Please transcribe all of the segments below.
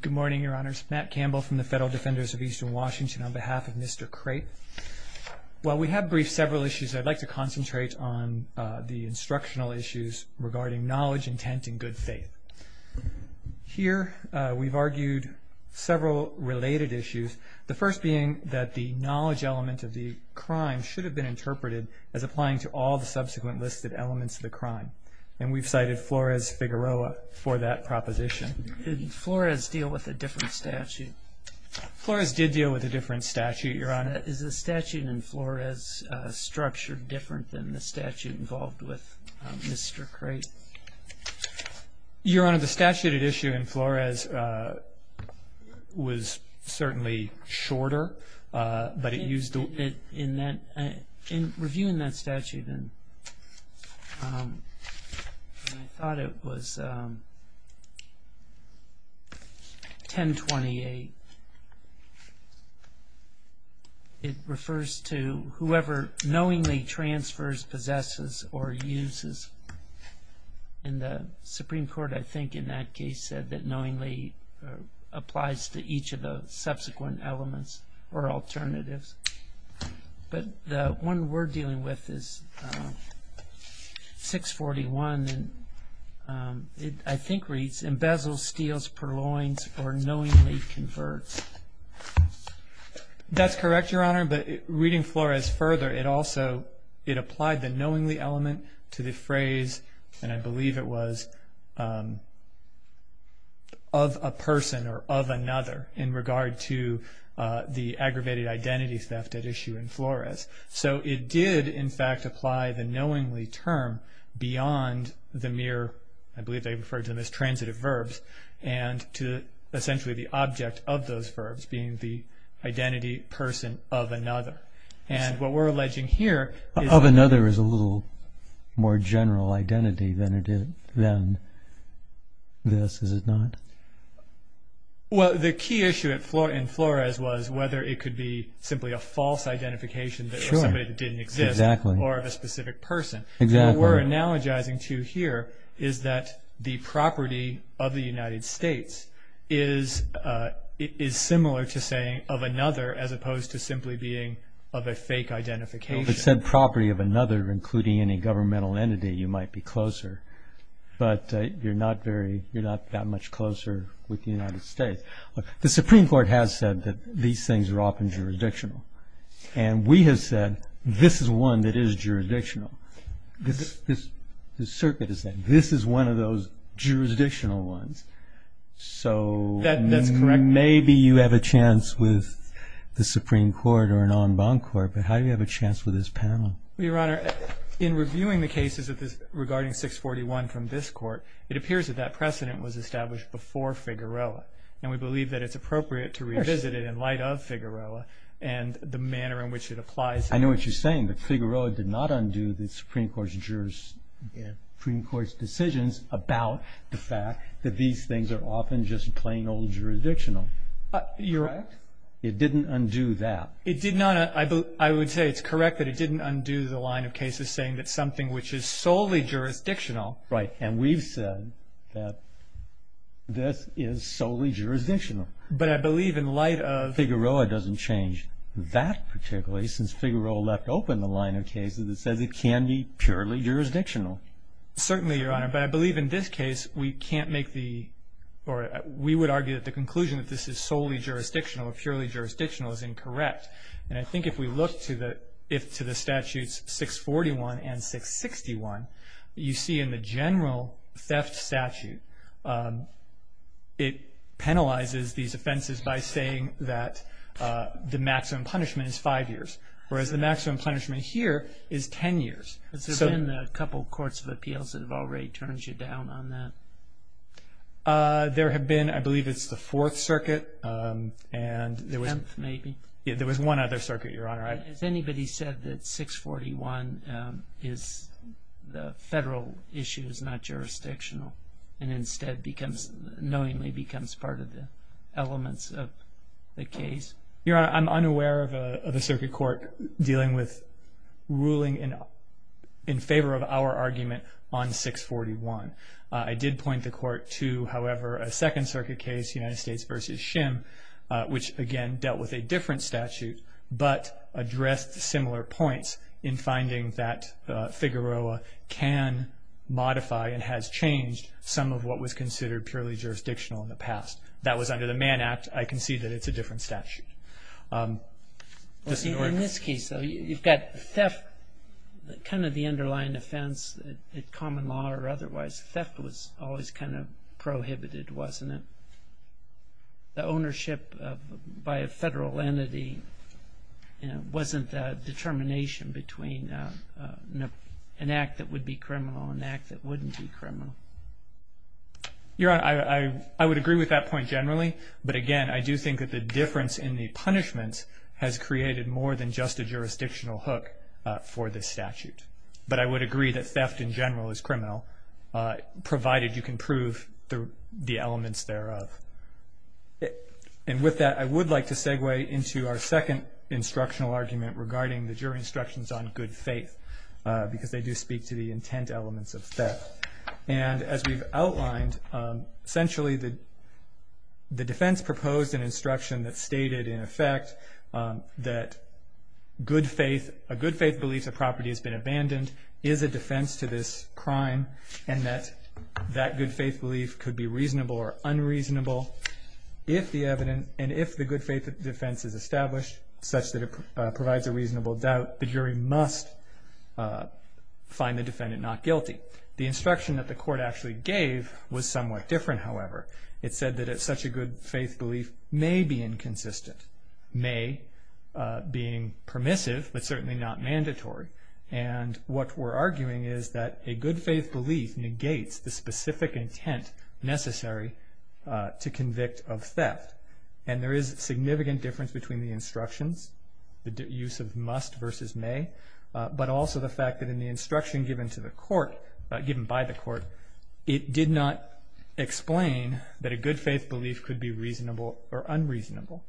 Good morning, Your Honors. Matt Campbell from the Federal Defenders of Eastern Washington on behalf of Mr. Crape. While we have briefed several issues, I'd like to concentrate on the instructional issues regarding knowledge, intent, and good faith. Here we've argued several related issues, the first being that the knowledge element of the crime should have been interpreted as applying to all the subsequent listed elements of the crime. And we've cited Flores-Figueroa for that proposition. Did Flores deal with a different statute? Flores did deal with a different statute, Your Honor. Is the statute in Flores structured different than the statute involved with Mr. Crape? Your Honor, the statute at issue in Flores was certainly shorter, but it used... In reviewing that statute, I thought it was 1028. It refers to whoever knowingly transfers, possesses, or uses. And the Supreme Court, I think, in that case said that knowingly applies to each of the subsequent elements or alternatives. But the one we're dealing with is 641. And it, I think, reads, embezzles, steals, purloins, or knowingly converts. That's correct, Your Honor. But reading Flores further, it applied the knowingly element to the phrase, and I believe it was, of a person or of another in regard to the aggravated identity theft at issue in Flores. So it did, in fact, apply the knowingly term beyond the mere, I believe they referred to them as transitive verbs, and to essentially the object of those verbs being the identity person of another. And what we're alleging here is... Of another is a little more general identity than this, is it not? Well, the key issue in Flores was whether it could be simply a false identification that somebody didn't exist... True, exactly. ...or a specific person. Exactly. What we're analogizing to here is that the property of the United States is similar to saying of another as opposed to simply being of a fake identification. Well, if it said property of another, including any governmental entity, you might be closer. But you're not that much closer with the United States. The Supreme Court has said that these things are often jurisdictional. And we have said this is one that is jurisdictional. The circuit has said this is one of those jurisdictional ones. That's correct. So maybe you have a chance with the Supreme Court or an en banc court, but how do you have a chance with this panel? Your Honor, in reviewing the cases regarding 641 from this court, it appears that that precedent was established before Figueroa. And we believe that it's appropriate to revisit it in light of Figueroa and the manner in which it applies. I know what you're saying, that Figueroa did not undo the Supreme Court's decisions about the fact that these things are often just plain old jurisdictional. You're right. It didn't undo that. It did not. I would say it's correct that it didn't undo the line of cases saying that something which is solely jurisdictional. Right. And we've said that this is solely jurisdictional. But I believe in light of... since Figueroa left open the line of cases, it says it can be purely jurisdictional. Certainly, Your Honor. But I believe in this case we can't make the... or we would argue that the conclusion that this is solely jurisdictional or purely jurisdictional is incorrect. And I think if we look to the statutes 641 and 661, you see in the general theft statute, it penalizes these offenses by saying that the maximum punishment is five years, whereas the maximum punishment here is ten years. Has there been a couple of courts of appeals that have already turned you down on that? There have been, I believe it's the Fourth Circuit and there was... Tenth, maybe. Yeah, there was one other circuit, Your Honor. Has anybody said that 641 is... the federal issue is not jurisdictional and instead becomes... knowingly becomes part of the elements of the case? Your Honor, I'm unaware of a circuit court dealing with ruling in favor of our argument on 641. I did point the court to, however, a Second Circuit case, United States v. Shim, which, again, dealt with a different statute, but addressed similar points in finding that Figueroa can modify and has changed some of what was considered purely jurisdictional in the past. That was under the Mann Act. I concede that it's a different statute. In this case, though, you've got theft, kind of the underlying offense in common law or otherwise. Theft was always kind of prohibited, wasn't it? The ownership by a federal entity wasn't the determination between an act that would be criminal and an act that wouldn't be criminal. Your Honor, I would agree with that point generally, but, again, I do think that the difference in the punishments has created more than just a jurisdictional hook for this statute. But I would agree that theft in general is criminal, provided you can prove the elements thereof. With that, I would like to segue into our second instructional argument regarding the jury instructions on good faith, because they do speak to the intent elements of theft. As we've outlined, essentially the defense proposed an instruction that stated, in effect, that a good faith belief that property has been abandoned is a defense to this crime, and that that good faith belief could be reasonable or unreasonable if the evidence, and if the good faith defense is established such that it provides a reasonable doubt, the jury must find the defendant not guilty. The instruction that the court actually gave was somewhat different, however. It said that such a good faith belief may be inconsistent, may being permissive, but certainly not mandatory. And what we're arguing is that a good faith belief negates the specific intent necessary to convict of theft. And there is significant difference between the instructions, the use of must versus may, but also the fact that in the instruction given to the court, given by the court, it did not explain that a good faith belief could be reasonable or unreasonable.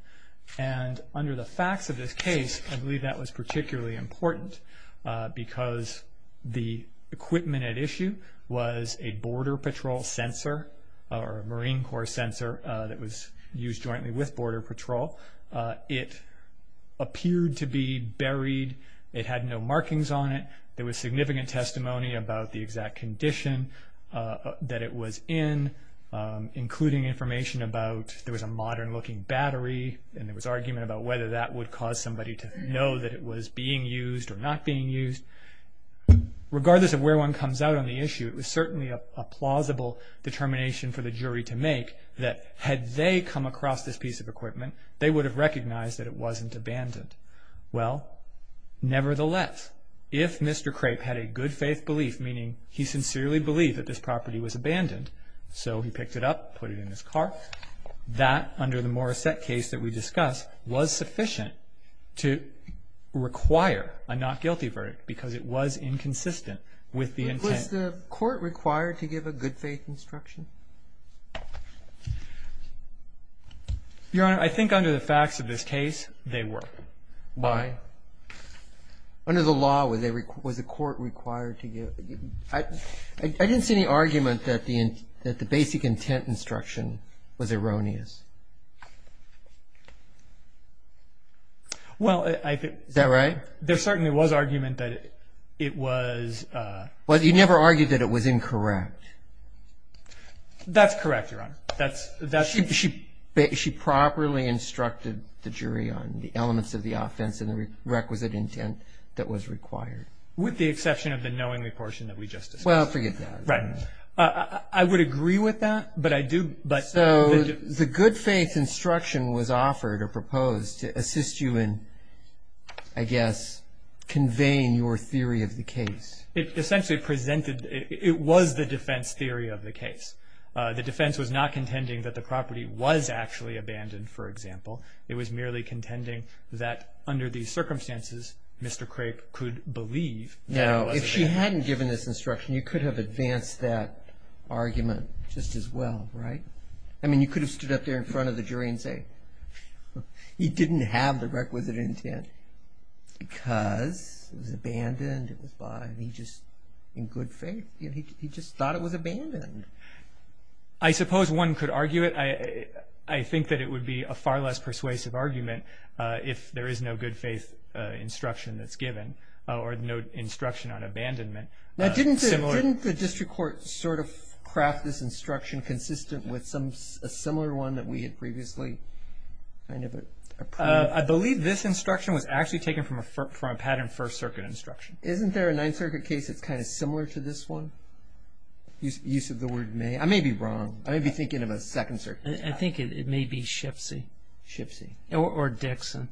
And under the facts of this case, I believe that was particularly important, because the equipment at issue was a Border Patrol sensor, or a Marine Corps sensor that was used jointly with Border Patrol. It appeared to be buried. It had no markings on it. There was significant testimony about the exact condition that it was in, including information about there was a modern-looking battery, and there was argument about whether that would cause somebody to know that it was being used or not being used. Regardless of where one comes out on the issue, it was certainly a plausible determination for the jury to make that had they come across this piece of equipment, they would have recognized that it wasn't abandoned. Well, nevertheless, if Mr. Crape had a good faith belief, meaning he sincerely believed that this property was abandoned, so he picked it up, put it in his car, that, under the Morissette case that we discussed, was sufficient to require a not guilty verdict because it was inconsistent with the intent. But was the court required to give a good faith instruction? Your Honor, I think under the facts of this case, they were. Why? Under the law, was the court required to give? I didn't see any argument that the basic intent instruction was erroneous. Well, I think- Is that right? There certainly was argument that it was- Well, you never argued that it was incorrect. That's correct, Your Honor. She properly instructed the jury on the elements of the offense and the requisite intent that was required. With the exception of the knowingly portion that we just discussed. Well, forget that. Right. I would agree with that, but I do- So the good faith instruction was offered or proposed to assist you in, I guess, conveying your theory of the case. It essentially presented, it was the defense theory of the case. The defense was not contending that the property was actually abandoned, for example. It was merely contending that under these circumstances, Mr. Crape could believe that it was abandoned. Now, if she hadn't given this instruction, you could have advanced that argument just as well, right? I mean, you could have stood up there in front of the jury and said, he didn't have the requisite intent because it was abandoned, it was bought, and he just, in good faith, he just thought it was abandoned. I suppose one could argue it. I think that it would be a far less persuasive argument if there is no good faith instruction that's given or no instruction on abandonment. Now, didn't the district court sort of craft this instruction consistent with a similar one that we had previously kind of approved? I believe this instruction was actually taken from a patterned First Circuit instruction. Isn't there a Ninth Circuit case that's kind of similar to this one? Use of the word may. I may be wrong. I may be thinking of a Second Circuit pattern. I think it may be Shipsey. Shipsey. Or Dixon.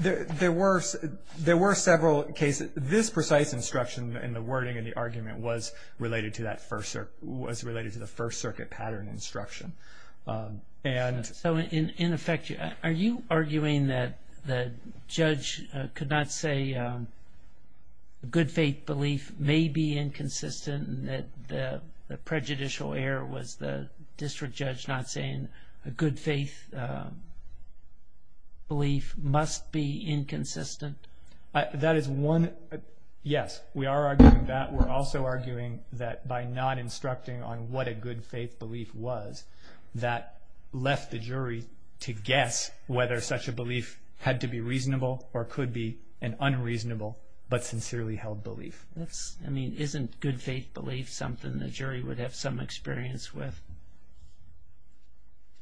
There were several cases. This precise instruction in the wording of the argument was related to the First Circuit pattern instruction. So, in effect, are you arguing that the judge could not say good faith belief may be inconsistent and that the prejudicial error was the district judge not saying a good faith belief must be inconsistent? That is one. Yes, we are arguing that. We're also arguing that by not instructing on what a good faith belief was, that left the jury to guess whether such a belief had to be reasonable or could be an unreasonable but sincerely held belief. Isn't good faith belief something the jury would have some experience with?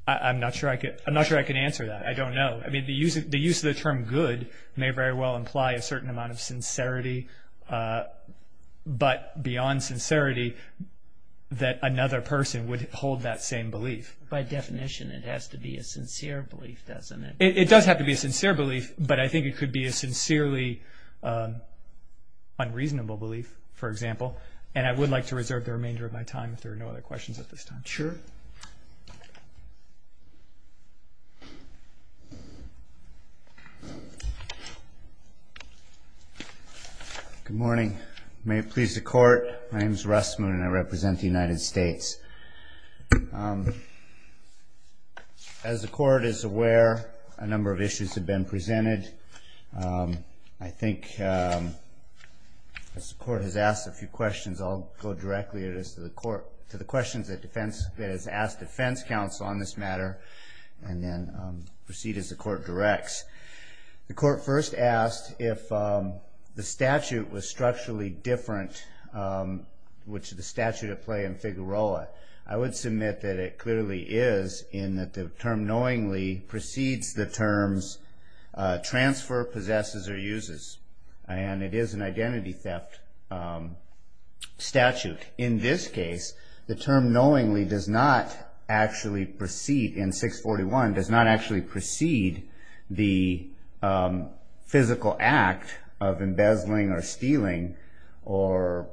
I'm not sure I can answer that. I don't know. The use of the term good may very well imply a certain amount of sincerity, but beyond sincerity that another person would hold that same belief. By definition, it has to be a sincere belief, doesn't it? It does have to be a sincere belief, but I think it could be a sincerely unreasonable belief, for example. And I would like to reserve the remainder of my time if there are no other questions at this time. Sure. Good morning. May it please the Court, my name is Russ Moon and I represent the United States. As the Court is aware, a number of issues have been presented. I think as the Court has asked a few questions, I'll go directly to the questions that has asked defense counsel on this matter and then proceed as the Court directs. The Court first asked if the statute was structurally different, which is the statute at play in Figueroa. I would submit that it clearly is in that the term knowingly precedes the terms transfer, possesses, or uses. And it is an identity theft statute. In this case, the term knowingly does not actually precede, in 641, does not actually precede the physical act of embezzling or stealing or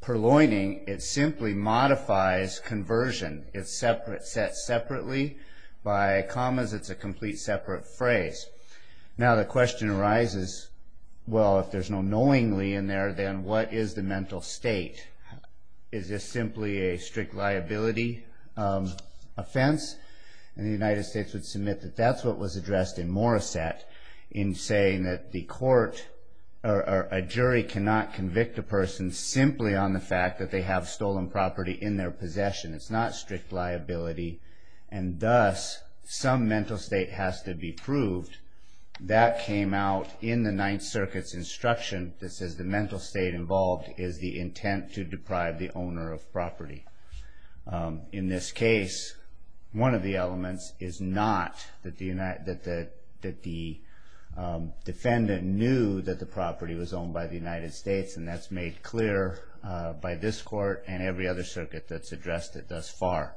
purloining. It simply modifies conversion. It's set separately. By commas, it's a complete separate phrase. Now the question arises, well, if there's no knowingly in there, then what is the mental state? Is this simply a strict liability offense? And the United States would submit that that's what was addressed in Morissette in saying that the court or a jury cannot convict a person simply on the fact that they have stolen property in their possession. It's not strict liability. And thus, some mental state has to be proved. That came out in the Ninth Circuit's instruction that says the mental state involved is the intent to deprive the owner of property. In this case, one of the elements is not that the defendant knew that the property was owned by the United States, and that's made clear by this court and every other circuit that's addressed it thus far.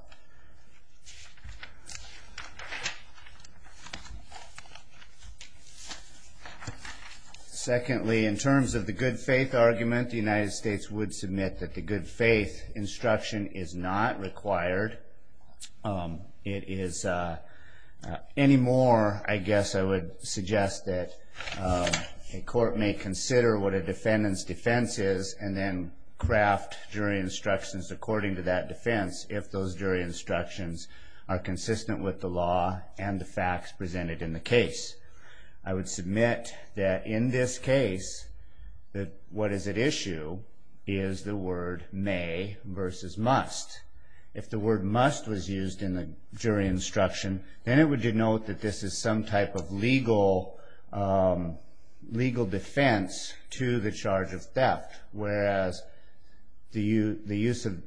Secondly, in terms of the good faith argument, the United States would submit that the good faith instruction is not required. Any more, I guess I would suggest that a court may consider what a defendant's defense is and then craft jury instructions according to that defense if those jury instructions are consistent with the law and the facts presented in the case. I would submit that in this case that what is at issue is the word may versus must. If the word must was used in the jury instruction, then it would denote that this is some type of legal defense to the charge of theft, whereas the use of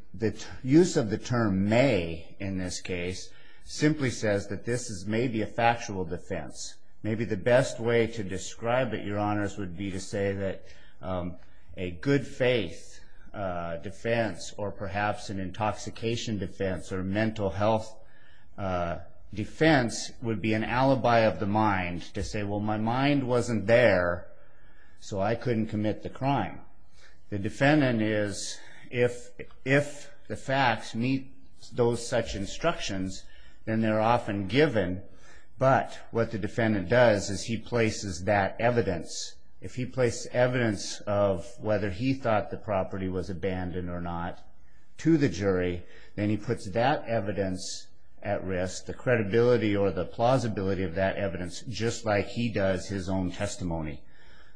the term may in this case simply says that this is maybe a factual defense. Maybe the best way to describe it, Your Honors, would be to say that a good faith defense or perhaps an intoxication defense or mental health defense would be an alibi of the mind to say, well, my mind wasn't there, so I couldn't commit the crime. The defendant is, if the facts meet those such instructions, then they're often given, but what the defendant does is he places that evidence. If he places evidence of whether he thought the property was abandoned or not to the jury, then he puts that evidence at risk, the credibility or the plausibility of that evidence, just like he does his own testimony.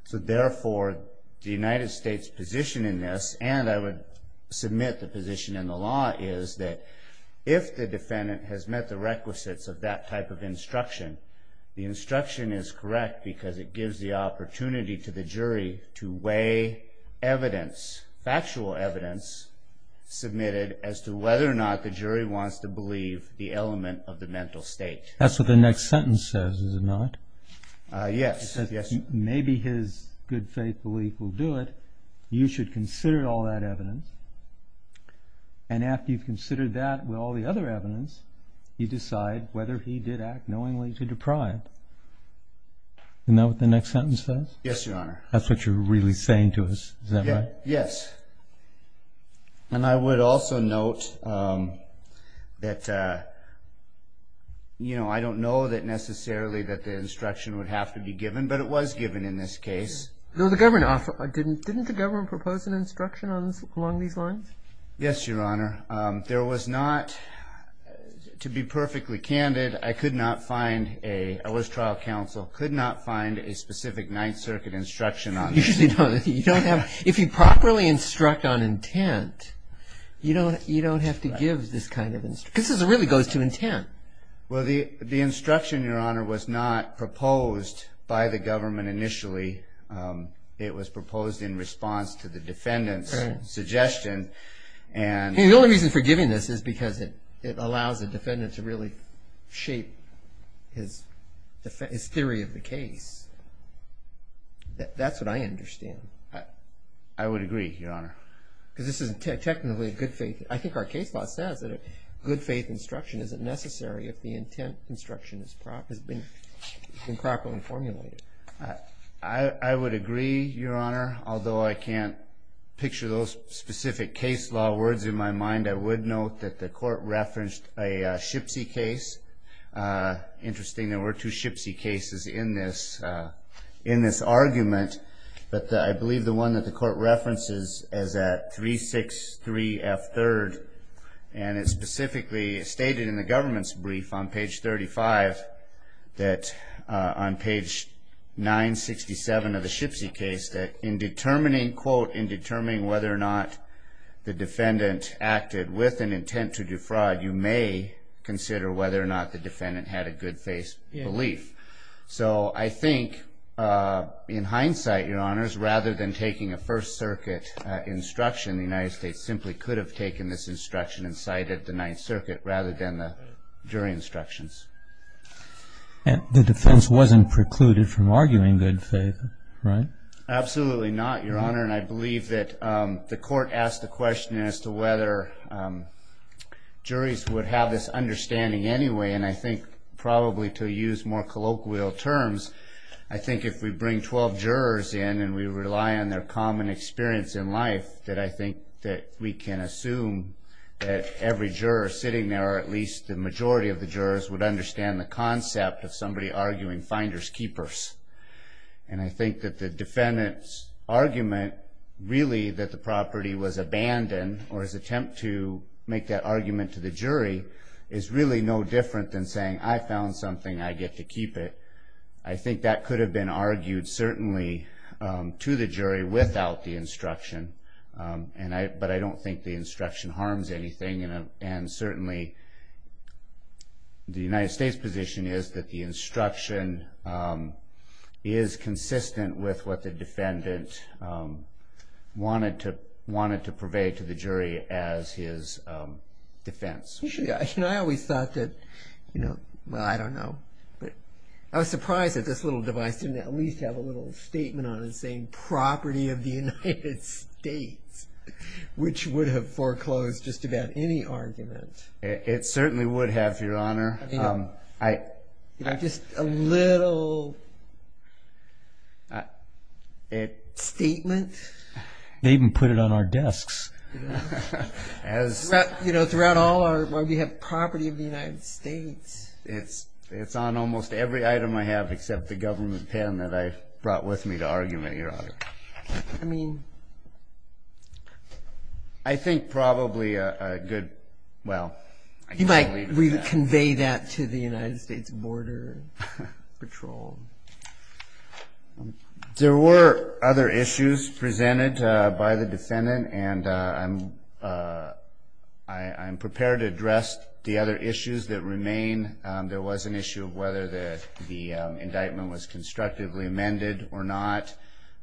So therefore, the United States' position in this, and I would submit the position in the law, is that if the defendant has met the requisites of that type of instruction, the instruction is correct because it gives the opportunity to the jury to weigh evidence, factual evidence submitted as to whether or not the jury wants to believe the element of the mental state. That's what the next sentence says, is it not? Yes. Maybe his good faith belief will do it. You should consider all that evidence, and after you've considered that with all the other evidence, you decide whether he did act knowingly to deprive. Isn't that what the next sentence says? Yes, Your Honor. That's what you're really saying to us, is that right? Yes. And I would also note that I don't know necessarily that the instruction would have to be given, but it was given in this case. Didn't the government propose an instruction along these lines? Yes, Your Honor. There was not, to be perfectly candid, I could not find a, I was trial counsel, could not find a specific Ninth Circuit instruction on this. You don't have, if you properly instruct on intent, you don't have to give this kind of instruction. This really goes to intent. Well, the instruction, Your Honor, was not proposed by the government initially. It was proposed in response to the defendant's suggestion. The only reason for giving this is because it allows the defendant to really shape his theory of the case. That's what I understand. I would agree, Your Honor. Because this is technically a good faith, I think our case law says that a good faith instruction isn't necessary if the intent instruction has been properly formulated. I would agree, Your Honor, although I can't picture those specific case law words in my mind. I would note that the court referenced a Shipsy case. Interesting, there were two Shipsy cases in this argument, but I believe the one that the court references is at 363F3rd, and it specifically stated in the government's brief on page 35 that, on page 967 of the Shipsy case, that in determining, quote, in determining whether or not the defendant acted with an intent to do fraud, you may consider whether or not the defendant had a good faith belief. So I think, in hindsight, Your Honors, rather than taking a First Circuit instruction, the United States simply could have taken this instruction and cited the Ninth Circuit rather than the jury instructions. And the defense wasn't precluded from arguing good faith, right? Absolutely not, Your Honor, and I believe that the court asked the question as to whether juries would have this understanding anyway, and I think probably to use more colloquial terms, I think if we bring 12 jurors in and we rely on their common experience in life, that I think that we can assume that every juror sitting there, or at least the majority of the jurors, would understand the concept of somebody arguing finders keepers. And I think that the defendant's argument, really, that the property was abandoned, or his attempt to make that argument to the jury, is really no different than saying, I found something, I get to keep it. I think that could have been argued, certainly, to the jury without the instruction, but I don't think the instruction harms anything, and certainly the United States position is that the instruction is consistent with what the defendant wanted to purvey to the jury as his defense. You know, I always thought that, well, I don't know, but I was surprised that this little device didn't at least have a little statement on it saying, property of the United States, which would have foreclosed just about any argument. It certainly would have, Your Honor. You know, just a little statement. They even put it on our desks. You know, throughout all our, where we have property of the United States. It's on almost every item I have except the government pen that I brought with me to argument, Your Honor. I mean. I think probably a good, well. You might convey that to the United States Border Patrol. There were other issues presented by the defendant, and I'm prepared to address the other issues that remain. There was an issue of whether the indictment was constructively amended or not.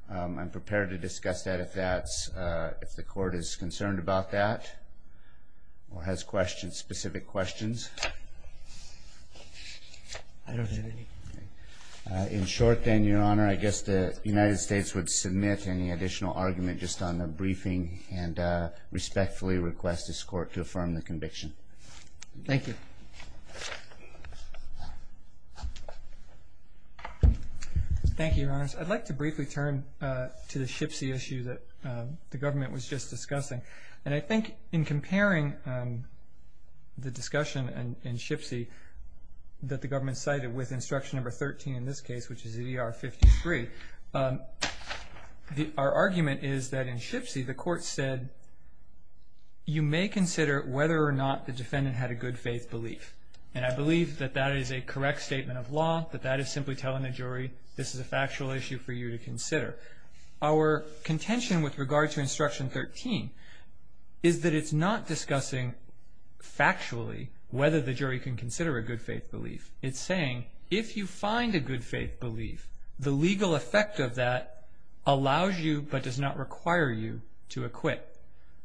I'm prepared to discuss that if that's, if the court is concerned about that or has questions, specific questions. I don't have any. In short then, Your Honor, I guess the United States would submit any additional argument just on the briefing and respectfully request this court to affirm the conviction. Thank you. Thank you, Your Honors. I'd like to briefly turn to the SHPSE issue that the government was just discussing. And I think in comparing the discussion in SHPSE that the government cited with instruction number 13 in this case, which is E.R. 53, our argument is that in SHPSE the court said you may consider whether or not the defendant had a good faith belief. And I believe that that is a correct statement of law, that that is simply telling the jury this is a factual issue for you to consider. Our contention with regard to instruction 13 is that it's not discussing factually whether the jury can consider a good faith belief. It's saying if you find a good faith belief, the legal effect of that allows you but does not require you to acquit.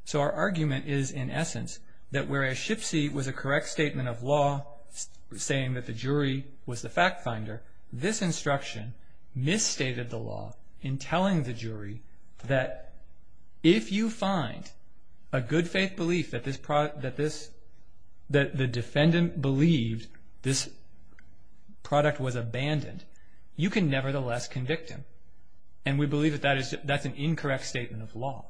So our argument is in essence that whereas SHPSE was a correct statement of law saying that the jury was the fact finder, this instruction misstated the law in telling the jury that if you find a good faith belief that the defendant believed this product was abandoned, you can nevertheless convict him. And we believe that that's an incorrect statement of law.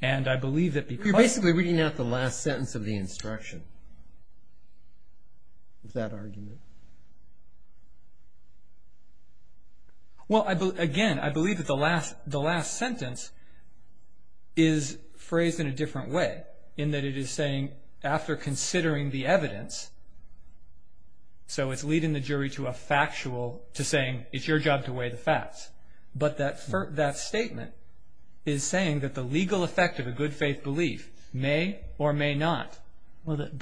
And I believe that because You're basically reading out the last sentence of the instruction of that argument. Well, again, I believe that the last sentence is phrased in a different way in that it is saying after considering the evidence, so it's leading the jury to a factual, to saying it's your job to weigh the facts. But that statement is saying that the legal effect of a good faith belief may or may not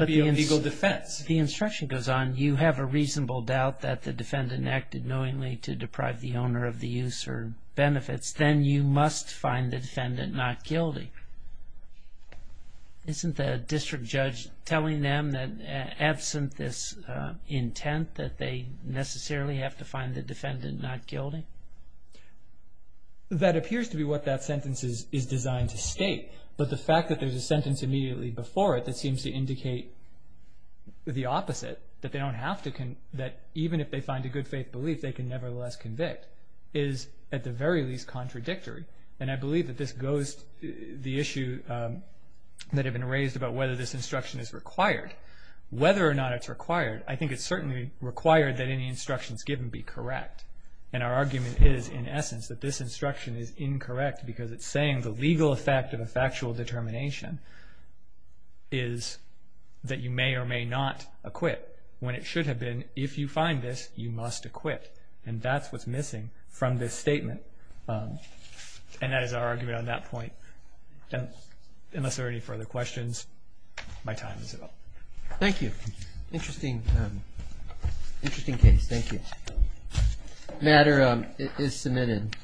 be a legal defense. The instruction goes on, you have a reasonable doubt that the defendant acted knowingly to deprive the owner of the use or benefits, then you must find the defendant not guilty. Isn't the district judge telling them that absent this intent that they necessarily have to find the defendant not guilty? That appears to be what that sentence is designed to state. But the fact that there's a sentence immediately before it that seems to indicate the opposite, that even if they find a good faith belief, they can nevertheless convict, is at the very least contradictory. And I believe that this goes to the issue that had been raised about whether this instruction is required. Whether or not it's required, I think it's certainly required that any instructions given be correct. And our argument is, in essence, that this instruction is incorrect because it's saying the legal effect of a factual determination is that you may or may not acquit, when it should have been if you find this, you must acquit. And that's what's missing from this statement. And that is our argument on that point. Unless there are any further questions, my time is up. Thank you. Interesting case. Thank you. The matter is submitted.